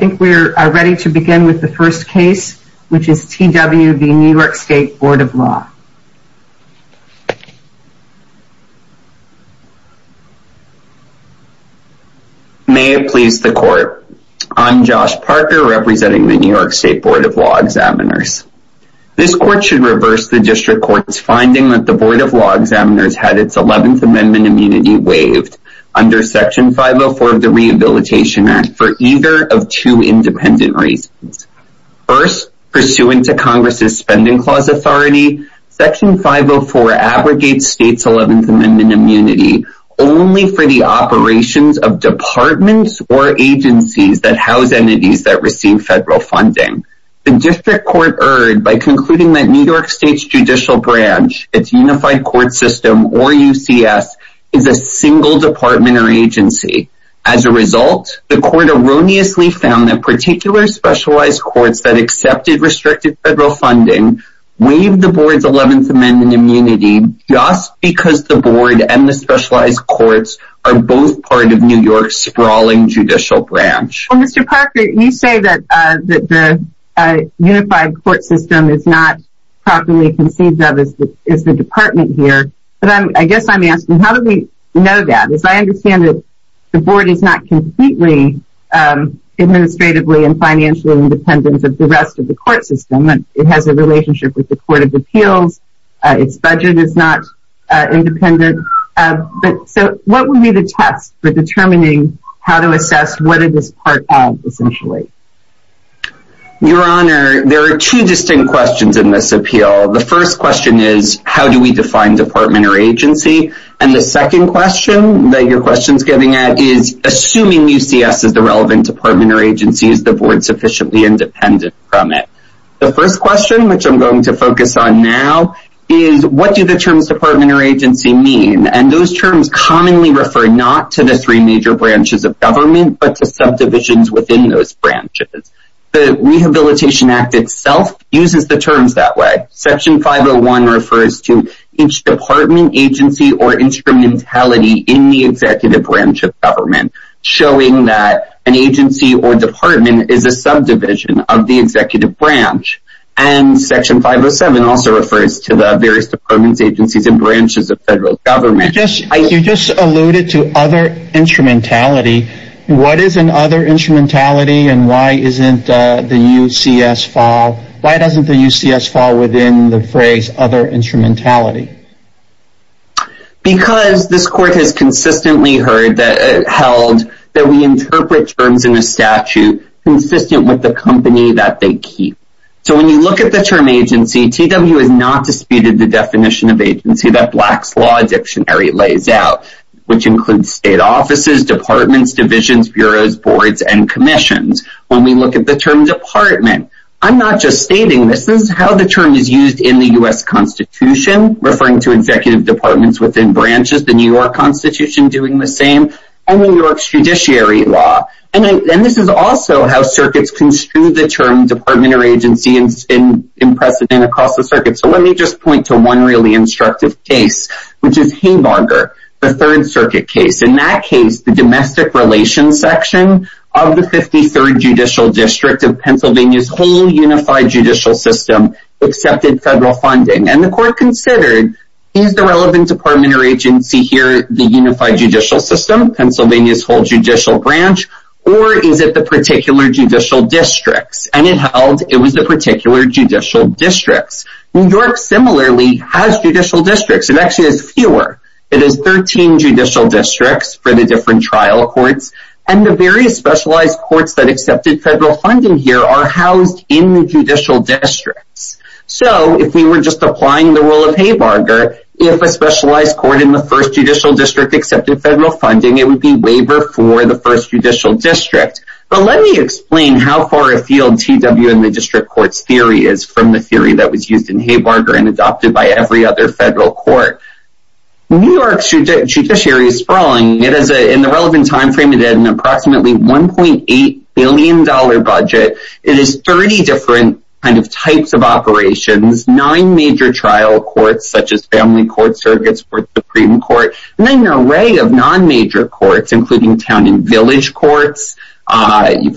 May it please the Court, I am Josh Parker representing the New York State Board of Law Examiners. This Court should reverse the District Court's finding that the Board of Law Examiners had its Eleventh Amendment immunity waived under Section 504 of the Rehabilitation Act for either of two independent reasons. First, pursuant to Congress's Spending Clause authority, Section 504 abrogates State's Eleventh Amendment immunity only for the operations of departments or agencies that house entities that receive federal funding. The District Court erred by concluding that New York State's judicial branch, its unified court system, or UCS, is a single department or agency. As a result, the Court erroneously found that particular specialized courts that accepted restricted federal funding waived the Board's Eleventh Amendment immunity just because the Board and the specialized courts are both part of New York's sprawling judicial branch. Well, Mr. Parker, you say that the unified court system is not properly conceived of as the department here, but I guess I'm asking, how do we know that? Because I understand that the Board is not completely administratively and financially independent of the rest of the court system. It has a relationship with the Court of Appeals, its budget is not independent, so what would be the test for determining how to assess what it is part of, essentially? Your Honor, there are two distinct questions in this appeal. The first question is, how do we define department or agency? The second question that your question is getting at is, assuming UCS is the relevant department or agency, is the Board sufficiently independent from it? The first question, which I'm going to focus on now, is, what do the terms department or agency mean? Those terms commonly refer not to the three major branches of government, but to subdivisions within those branches. The Rehabilitation Act itself uses the terms that way. Section 501 refers to each department, agency, or instrumentality in the executive branch of government, showing that an agency or department is a subdivision of the executive branch. Section 507 also refers to the various departments, agencies, and branches of federal government. You just alluded to other instrumentality. What is an other instrumentality, and why isn't the UCS fall? Because this Court has consistently held that we interpret terms in a statute consistent with the company that they keep. So when you look at the term agency, TW has not disputed the definition of agency that Black's Law Dictionary lays out, which includes state offices, departments, divisions, bureaus, boards, and commissions. When we look at the term department, I'm not just stating this, this is how the term is used in the U.S. Constitution, referring to executive departments within branches, the New York Constitution doing the same, and New York's Judiciary Law. This is also how circuits construe the term department or agency in precedent across the circuit. So let me just point to one really instructive case, which is Haymarger, the Third Circuit case. In that case, the domestic relations section of the 53rd Judicial District of Pennsylvania's whole unified judicial system accepted federal funding. And the Court considered, is the relevant department or agency here the unified judicial system, Pennsylvania's whole judicial branch, or is it the particular judicial districts? And it held it was the particular judicial districts. New York similarly has judicial districts, it actually has fewer. It has 13 judicial districts for the different trial courts, and the various specialized courts that accepted federal funding here are housed in the judicial districts. So if we were just applying the rule of Haymarger, if a specialized court in the First Judicial District accepted federal funding, it would be waiver for the First Judicial District. But let me explain how far afield T.W. and the District Court's theory is from the theory that was used in Haymarger and adopted by every other federal court. New York's judiciary is sprawling. In the relevant time frame, it had an approximately $1.8 billion budget. It has 30 different types of operations, nine major trial courts, such as family court circuits for the Supreme Court, and then an array of non-major courts, including town and village courts, drug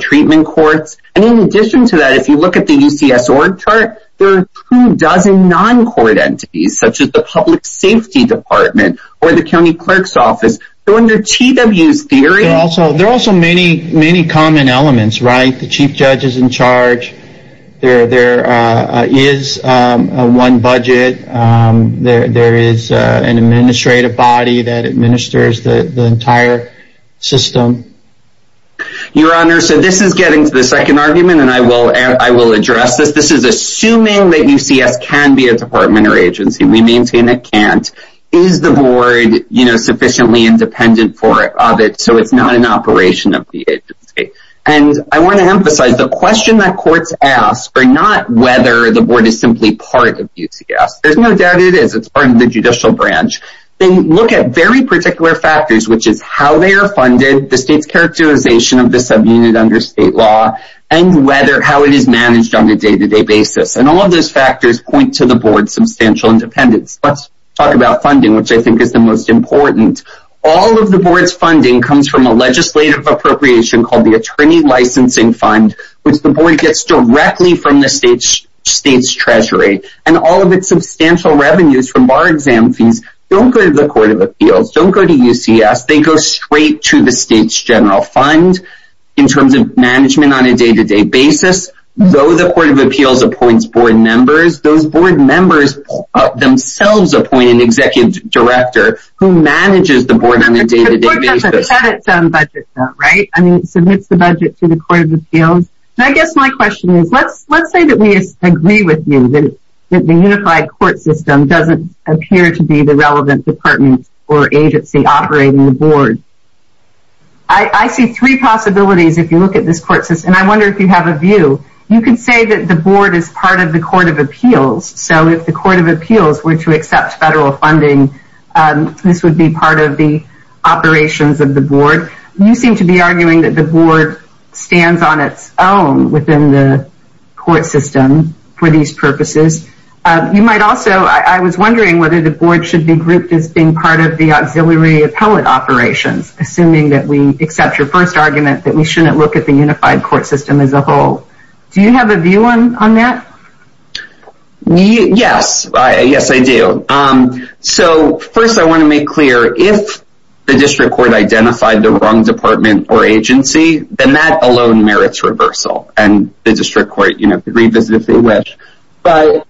treatment courts. And in addition to that, if you look at the UCS org chart, there are two dozen non-court entities, such as the Public Safety Department or the County Clerk's Office. So under T.W.'s theory... There are also many common elements, right? The Chief Judge is in charge, there is a one budget, there is an administrative body that administers the entire system. Your Honor, so this is getting to the second argument, and I will address this. This is assuming that UCS can be a department or agency. We maintain it can't. Is the board sufficiently independent of it so it's not an operation of the agency? And I want to emphasize, the question that courts ask are not whether the board is simply part of UCS. There's no doubt it is, it's part of the judicial branch. They look at very particular factors, which is how they are funded, the state's characterization of the subunit under state law, and how it is managed on a day-to-day basis. And all of those factors point to the board's substantial independence. Let's talk about funding, which I think is the most important. All of the board's funding comes from a legislative appropriation called the Attorney Licensing Fund, which the board gets directly from the state's treasury. And all of its substantial revenues from bar exam fees don't go to the Court of Appeals, don't go to UCS, they go straight to the state's general fund in terms of management on a day-to-day basis. Though the Court of Appeals appoints board members, those board members themselves appoint an executive director who manages the board on a day-to-day basis. The board doesn't have its own budget, though, right? I guess my question is, let's say that we agree with you that the unified court system doesn't appear to be the relevant department or agency operating the board. I see three possibilities if you look at this court system, and I wonder if you have a view. You can say that the board is part of the Court of Appeals, so if the Court of Appeals were to accept federal funding, this would be part of the operations of the board. You seem to be arguing that the board stands on its own within the court system for these purposes. You might also, I was wondering whether the board should be grouped as being part of the auxiliary appellate operations, assuming that we accept your first argument that we shouldn't look at the unified court system as a whole. Do you have a view on that? Yes, yes I do. So first I want to make clear, if the district court identified the wrong department or agency, then that alone merits reversal, and the district court can revisit if they wish. But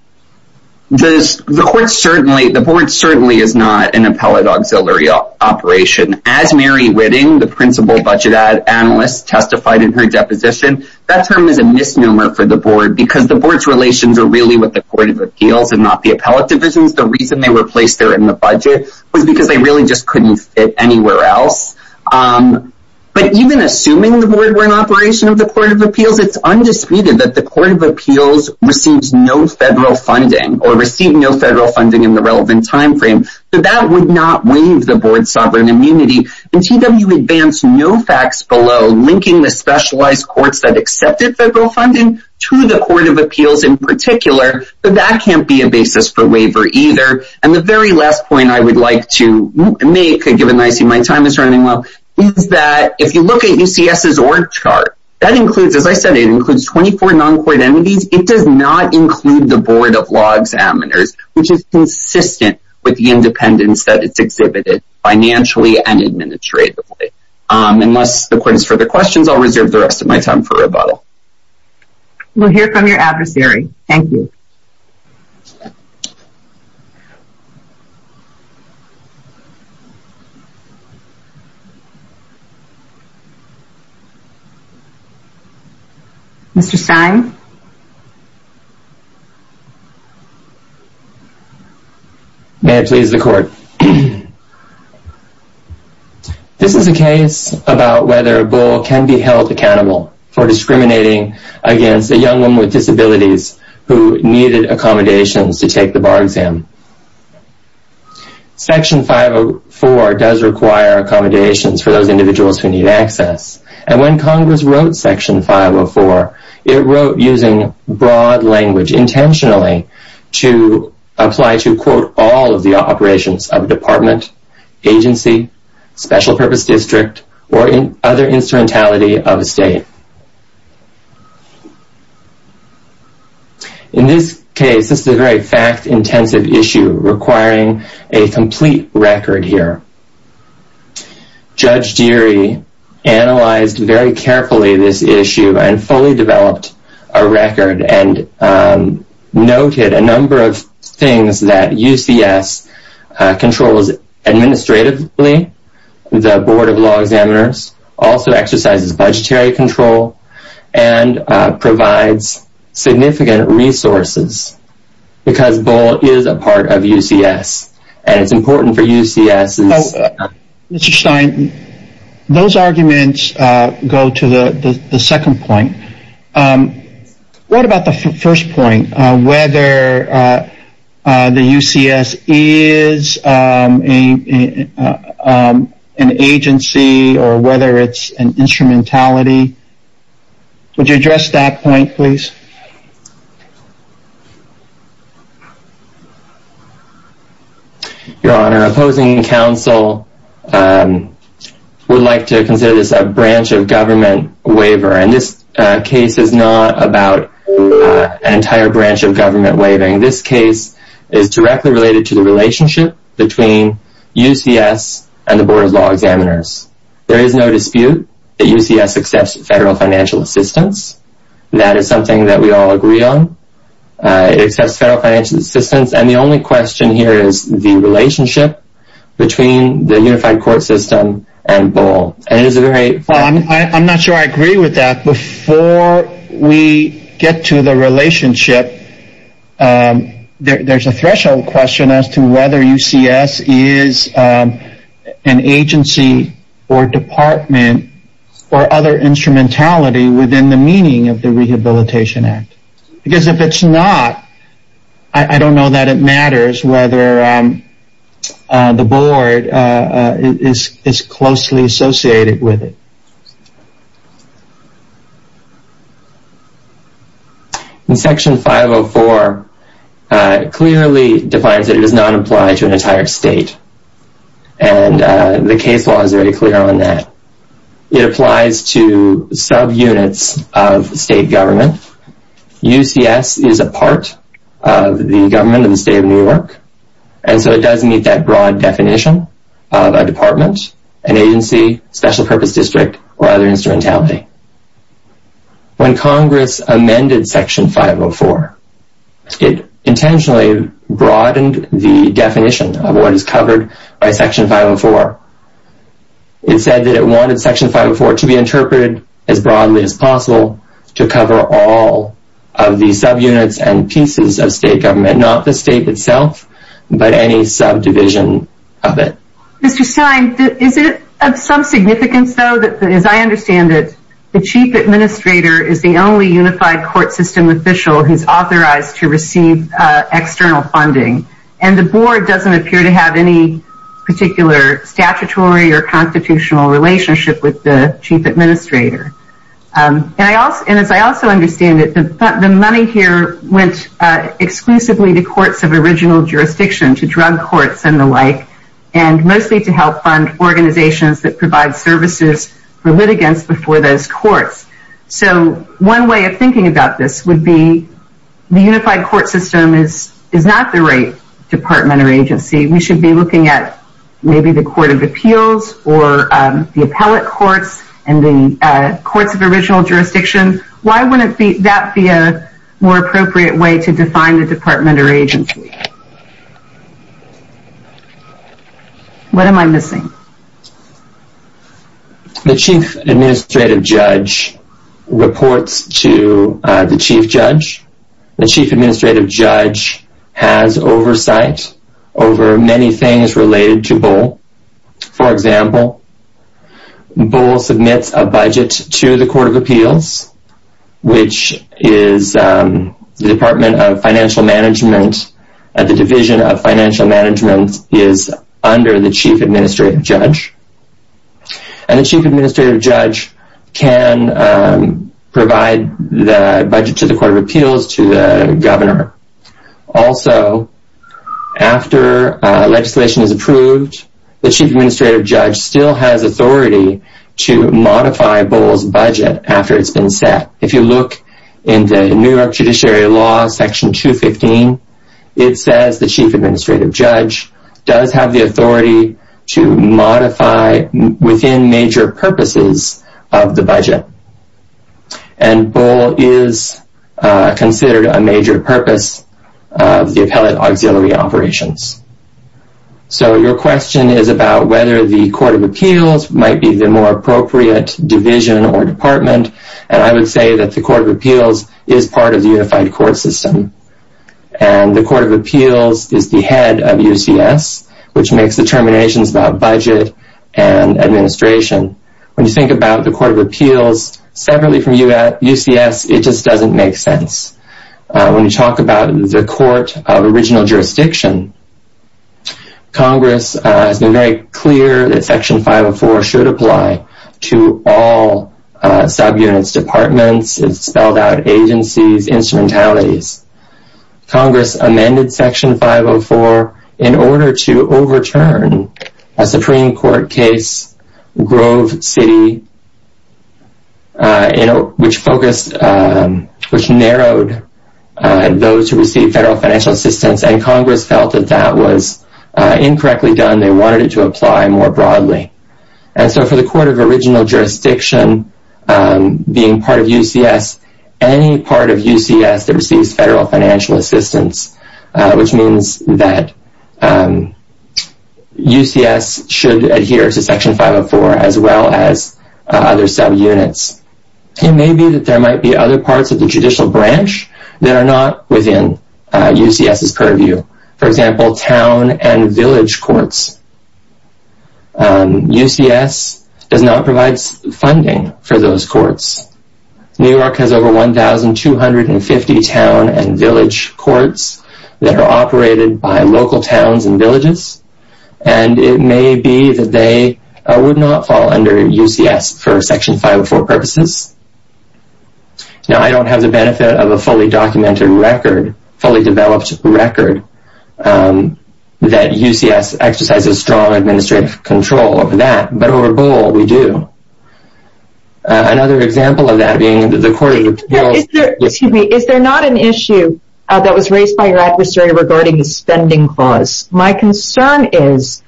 the board certainly is not an appellate auxiliary operation. As Mary Whitting, the principal budget analyst, testified in her deposition, that term is a misnomer for the board because the board's relations are really with the Court of Appeals and not the appellate divisions. The reason they were placed there in the budget was because they really just couldn't fit anywhere else. But even assuming the board were an operation of the Court of Appeals, it's undisputed that the Court of Appeals receives no federal funding or received no federal funding in the relevant time frame. So that would not waive the board's sovereign immunity. And TW Advance, no facts below, linking the specialized courts that accepted federal funding to the Court of Appeals in particular, but that can't be a basis for waiver either. And the very last point I would like to make, given that I see my time is running low, is that if you look at UCS's org chart, that includes, as I said, it includes 24 non-court entities. It does not include the board of law examiners, which is consistent with the independence that it's exhibited financially and administratively. Unless the court has further questions, I'll reserve the rest of my time for rebuttal. We'll hear from your adversary. Thank you. Mr. Stein? May it please the court. This is a case about whether a bull can be held accountable for discriminating against a young woman with disabilities who needed accommodations to take the bar exam. Section 504 does require accommodations for those individuals who need access. And when Congress wrote Section 504, it wrote using broad language intentionally to apply to, quote, all of the operations of a department, agency, special purpose district, or other instrumentality of a state. In this case, this is a very fact-intensive issue requiring a complete record here. Judge Deary analyzed very carefully this issue and fully developed a record and noted a number of things that UCS controls administratively, the board of law examiners, also exercises budgetary control, and provides significant resources because bull is a part of UCS. And it's important for UCS. Mr. Stein, those arguments go to the second point. What about the first point, whether the UCS is an agency or whether it's an instrumentality? Would you address that point, please? Your Honor, opposing counsel would like to consider this a branch of government waiver. And this case is not about an entire branch of government waiving. This case is directly related to the relationship between UCS and the board of law examiners. There is no dispute that UCS accepts federal financial assistance. That is something that we all agree on. It accepts federal financial assistance. And the only question here is the relationship between the unified court system and bull. I'm not sure I agree with that. Before we get to the relationship, there's a threshold question as to whether UCS is an agency or department or other instrumentality within the meaning of the Rehabilitation Act. Because if it's not, I don't know that it matters whether the board is closely associated with it. In Section 504, it clearly defines that it does not apply to an entire state. And the case law is very clear on that. It applies to subunits of state government. UCS is a part of the government of the state of New York. And so it does meet that broad definition of a department, an agency, special purpose district, or other instrumentality. When Congress amended Section 504, it intentionally broadened the definition of what is covered by Section 504. It said that it wanted Section 504 to be interpreted as broadly as possible to cover all of the subunits and pieces of state government. Not the state itself, but any subdivision of it. Mr. Stein, is it of some significance, though, that as I understand it, the chief administrator is the only unified court system official who is authorized to receive external funding. And the board doesn't appear to have any particular statutory or constitutional relationship with the chief administrator. And as I also understand it, the money here went exclusively to courts of original jurisdiction, to drug courts and the like, and mostly to help fund organizations that provide services for litigants before those courts. So one way of thinking about this would be the unified court system is not the right department or agency. We should be looking at maybe the Court of Appeals or the Appellate Courts and the Courts of Original Jurisdiction. Why wouldn't that be a more appropriate way to define the department or agency? What am I missing? The chief administrative judge reports to the chief judge. The chief administrative judge has oversight over many things related to Bull. For example, Bull submits a budget to the Court of Appeals, which is the Department of Financial Management, and the Division of Financial Management is under the chief administrative judge. And the chief administrative judge can provide the budget to the Court of Appeals to the governor. Also, after legislation is approved, the chief administrative judge still has authority to modify Bull's budget after it's been set. If you look in the New York Judiciary Law, Section 215, it says the chief administrative judge does have the authority to modify within major purposes of the budget. And Bull is considered a major purpose of the appellate auxiliary operations. So your question is about whether the Court of Appeals might be the more appropriate division or department, and I would say that the Court of Appeals is part of the unified court system. And the Court of Appeals is the head of UCS, which makes determinations about budget and administration. When you think about the Court of Appeals separately from UCS, it just doesn't make sense. When you talk about the Court of Original Jurisdiction, Congress has been very clear that Section 504 should apply to all subunits, departments, spelled out agencies, instrumentalities. Congress amended Section 504 in order to overturn a Supreme Court case, Grove City, which narrowed those who received federal financial assistance, and Congress felt that that was incorrectly done. They wanted it to apply more broadly. And so for the Court of Original Jurisdiction, being part of UCS, any part of UCS that receives federal financial assistance, which means that UCS should adhere to Section 504 as well as other subunits. It may be that there might be other parts of the judicial branch that are not within UCS's purview. For example, town and village courts. UCS does not provide funding for those courts. New York has over 1,250 town and village courts that are operated by local towns and villages, and it may be that they would not fall under UCS for Section 504 purposes. Now, I don't have the benefit of a fully documented record, fully developed record, that UCS exercises strong administrative control over that, but over Boal, we do. Another example of that being the Court of... Excuse me. Is there not an issue that was raised by your adversary regarding the spending clause? My concern is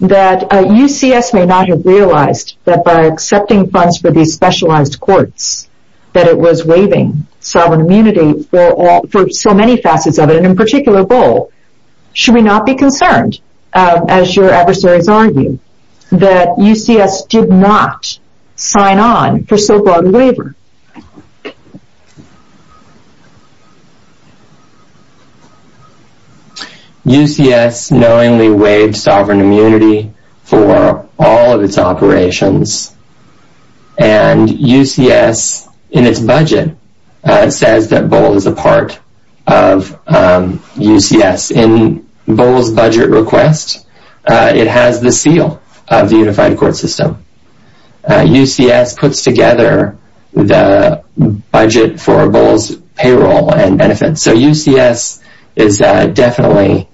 that UCS may not have realized that by accepting funds for these specialized courts, that it was waiving sovereign immunity for so many facets of it, and in particular Boal. Should we not be concerned, as your adversaries argue, that UCS did not sign on for so broad a waiver? UCS knowingly waived sovereign immunity for all of its operations, and UCS, in its budget, says that Boal is a part of UCS. In Boal's budget request, it has the seal of the Unified Court System. UCS puts together the Unified Court System for the budget for Boal's payroll and benefits. So UCS is definitely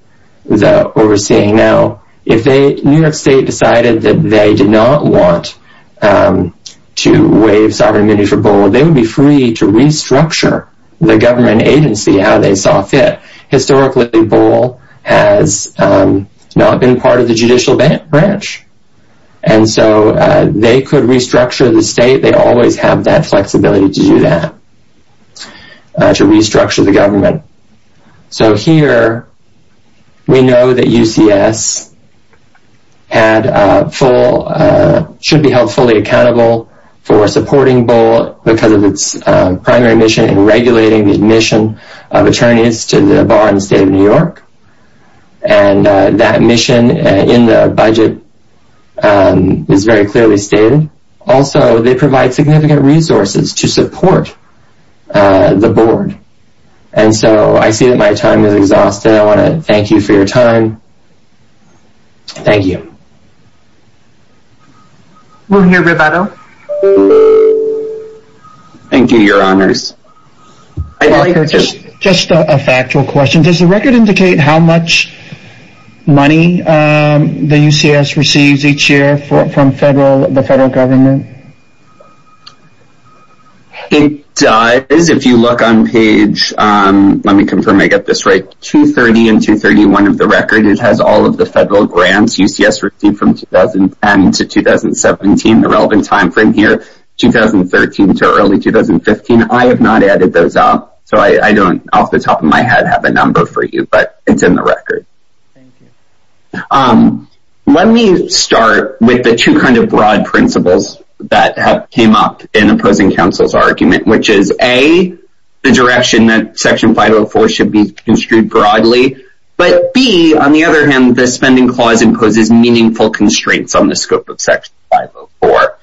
the overseeing. Now, if New York State decided that they did not want to waive sovereign immunity for Boal, they would be free to restructure the government agency how they saw fit. Historically, Boal has not been part of the judicial branch, and so they could restructure the state. They always have that flexibility to do that, to restructure the government. So here, we know that UCS should be held fully accountable for supporting Boal because of its primary mission in regulating the admission of attorneys to the bar in the state of New York, and that mission in the budget is very clearly stated. Also, they provide significant resources to support the board. And so, I see that my time is exhausted. I want to thank you for your time. Thank you. We'll hear Roberto. Thank you, your honors. Just a factual question. Does the record indicate how much money the UCS receives each year from the federal government? It does. If you look on page, let me confirm I get this right, 230 and 231 of the record, it has all of the federal grants UCS received from 2010 to 2017, the relevant time frame here, 2013 to early 2015. I have not added those up, so I don't off the top of my head have a number for you, but it's in the record. Let me start with the two kind of broad principles that have came up in opposing counsel's argument, which is A, the direction that Section 504 should be construed broadly, but B, on the other hand, the spending clause imposes meaningful constraints on the scope of Section 504.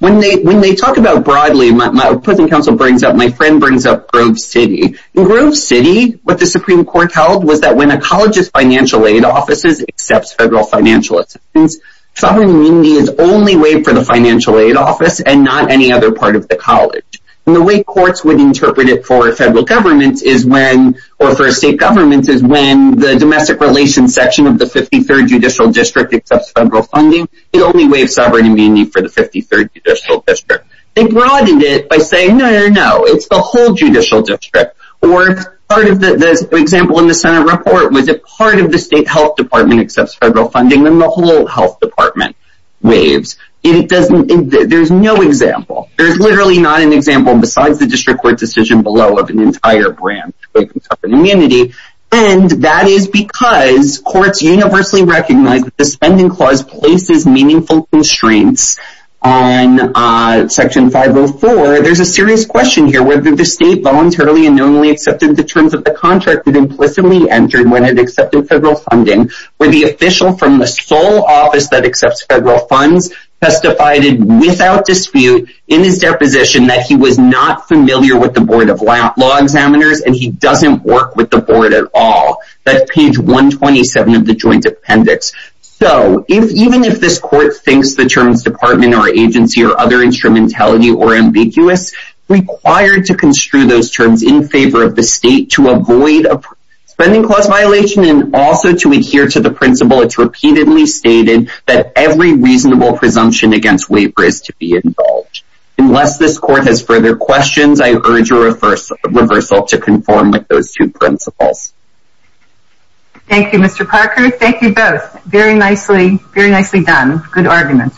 When they talk about broadly, my opposing counsel brings up, my friend brings up Grove City. In Grove City, what the Supreme Court held was that when a college's financial aid offices accepts federal financial assistance, sovereign immunity is only waived for the financial aid office and not any other part of the college. The way courts would interpret it for federal governments is when, or for state governments, is when the domestic relations section of the 53rd Judicial District accepts federal funding, it only waives sovereign immunity for the 53rd Judicial District. They broadened it by saying, no, no, no, it's the whole Judicial District. Or, for example, in the Senate report, if part of the state health department accepts federal funding, then the whole health department waives. There's no example. There's literally not an example besides the district court decision below of an entire branch waiving sovereign immunity, and that is because courts universally recognize that the spending clause places meaningful constraints on Section 504. There's a serious question here whether the state voluntarily and knowingly accepted the terms of the contract it implicitly entered when it accepted federal funding, where the official from the sole office that accepts federal funds testified without dispute in his deposition that he was not familiar with the Board of Law Examiners and he doesn't work with the Board at all. That's page 127 of the Joint Appendix. So, even if this court thinks the terms department or agency or other instrumentality are ambiguous, required to construe those terms in favor of the state to avoid a spending clause violation and also to adhere to the principle it's repeatedly stated that every reasonable presumption against waiver is to be involved. Unless this court has further questions, I urge a reversal to conform with those two principles. Thank you, Mr. Parker. Thank you both. Very nicely done. Good argument.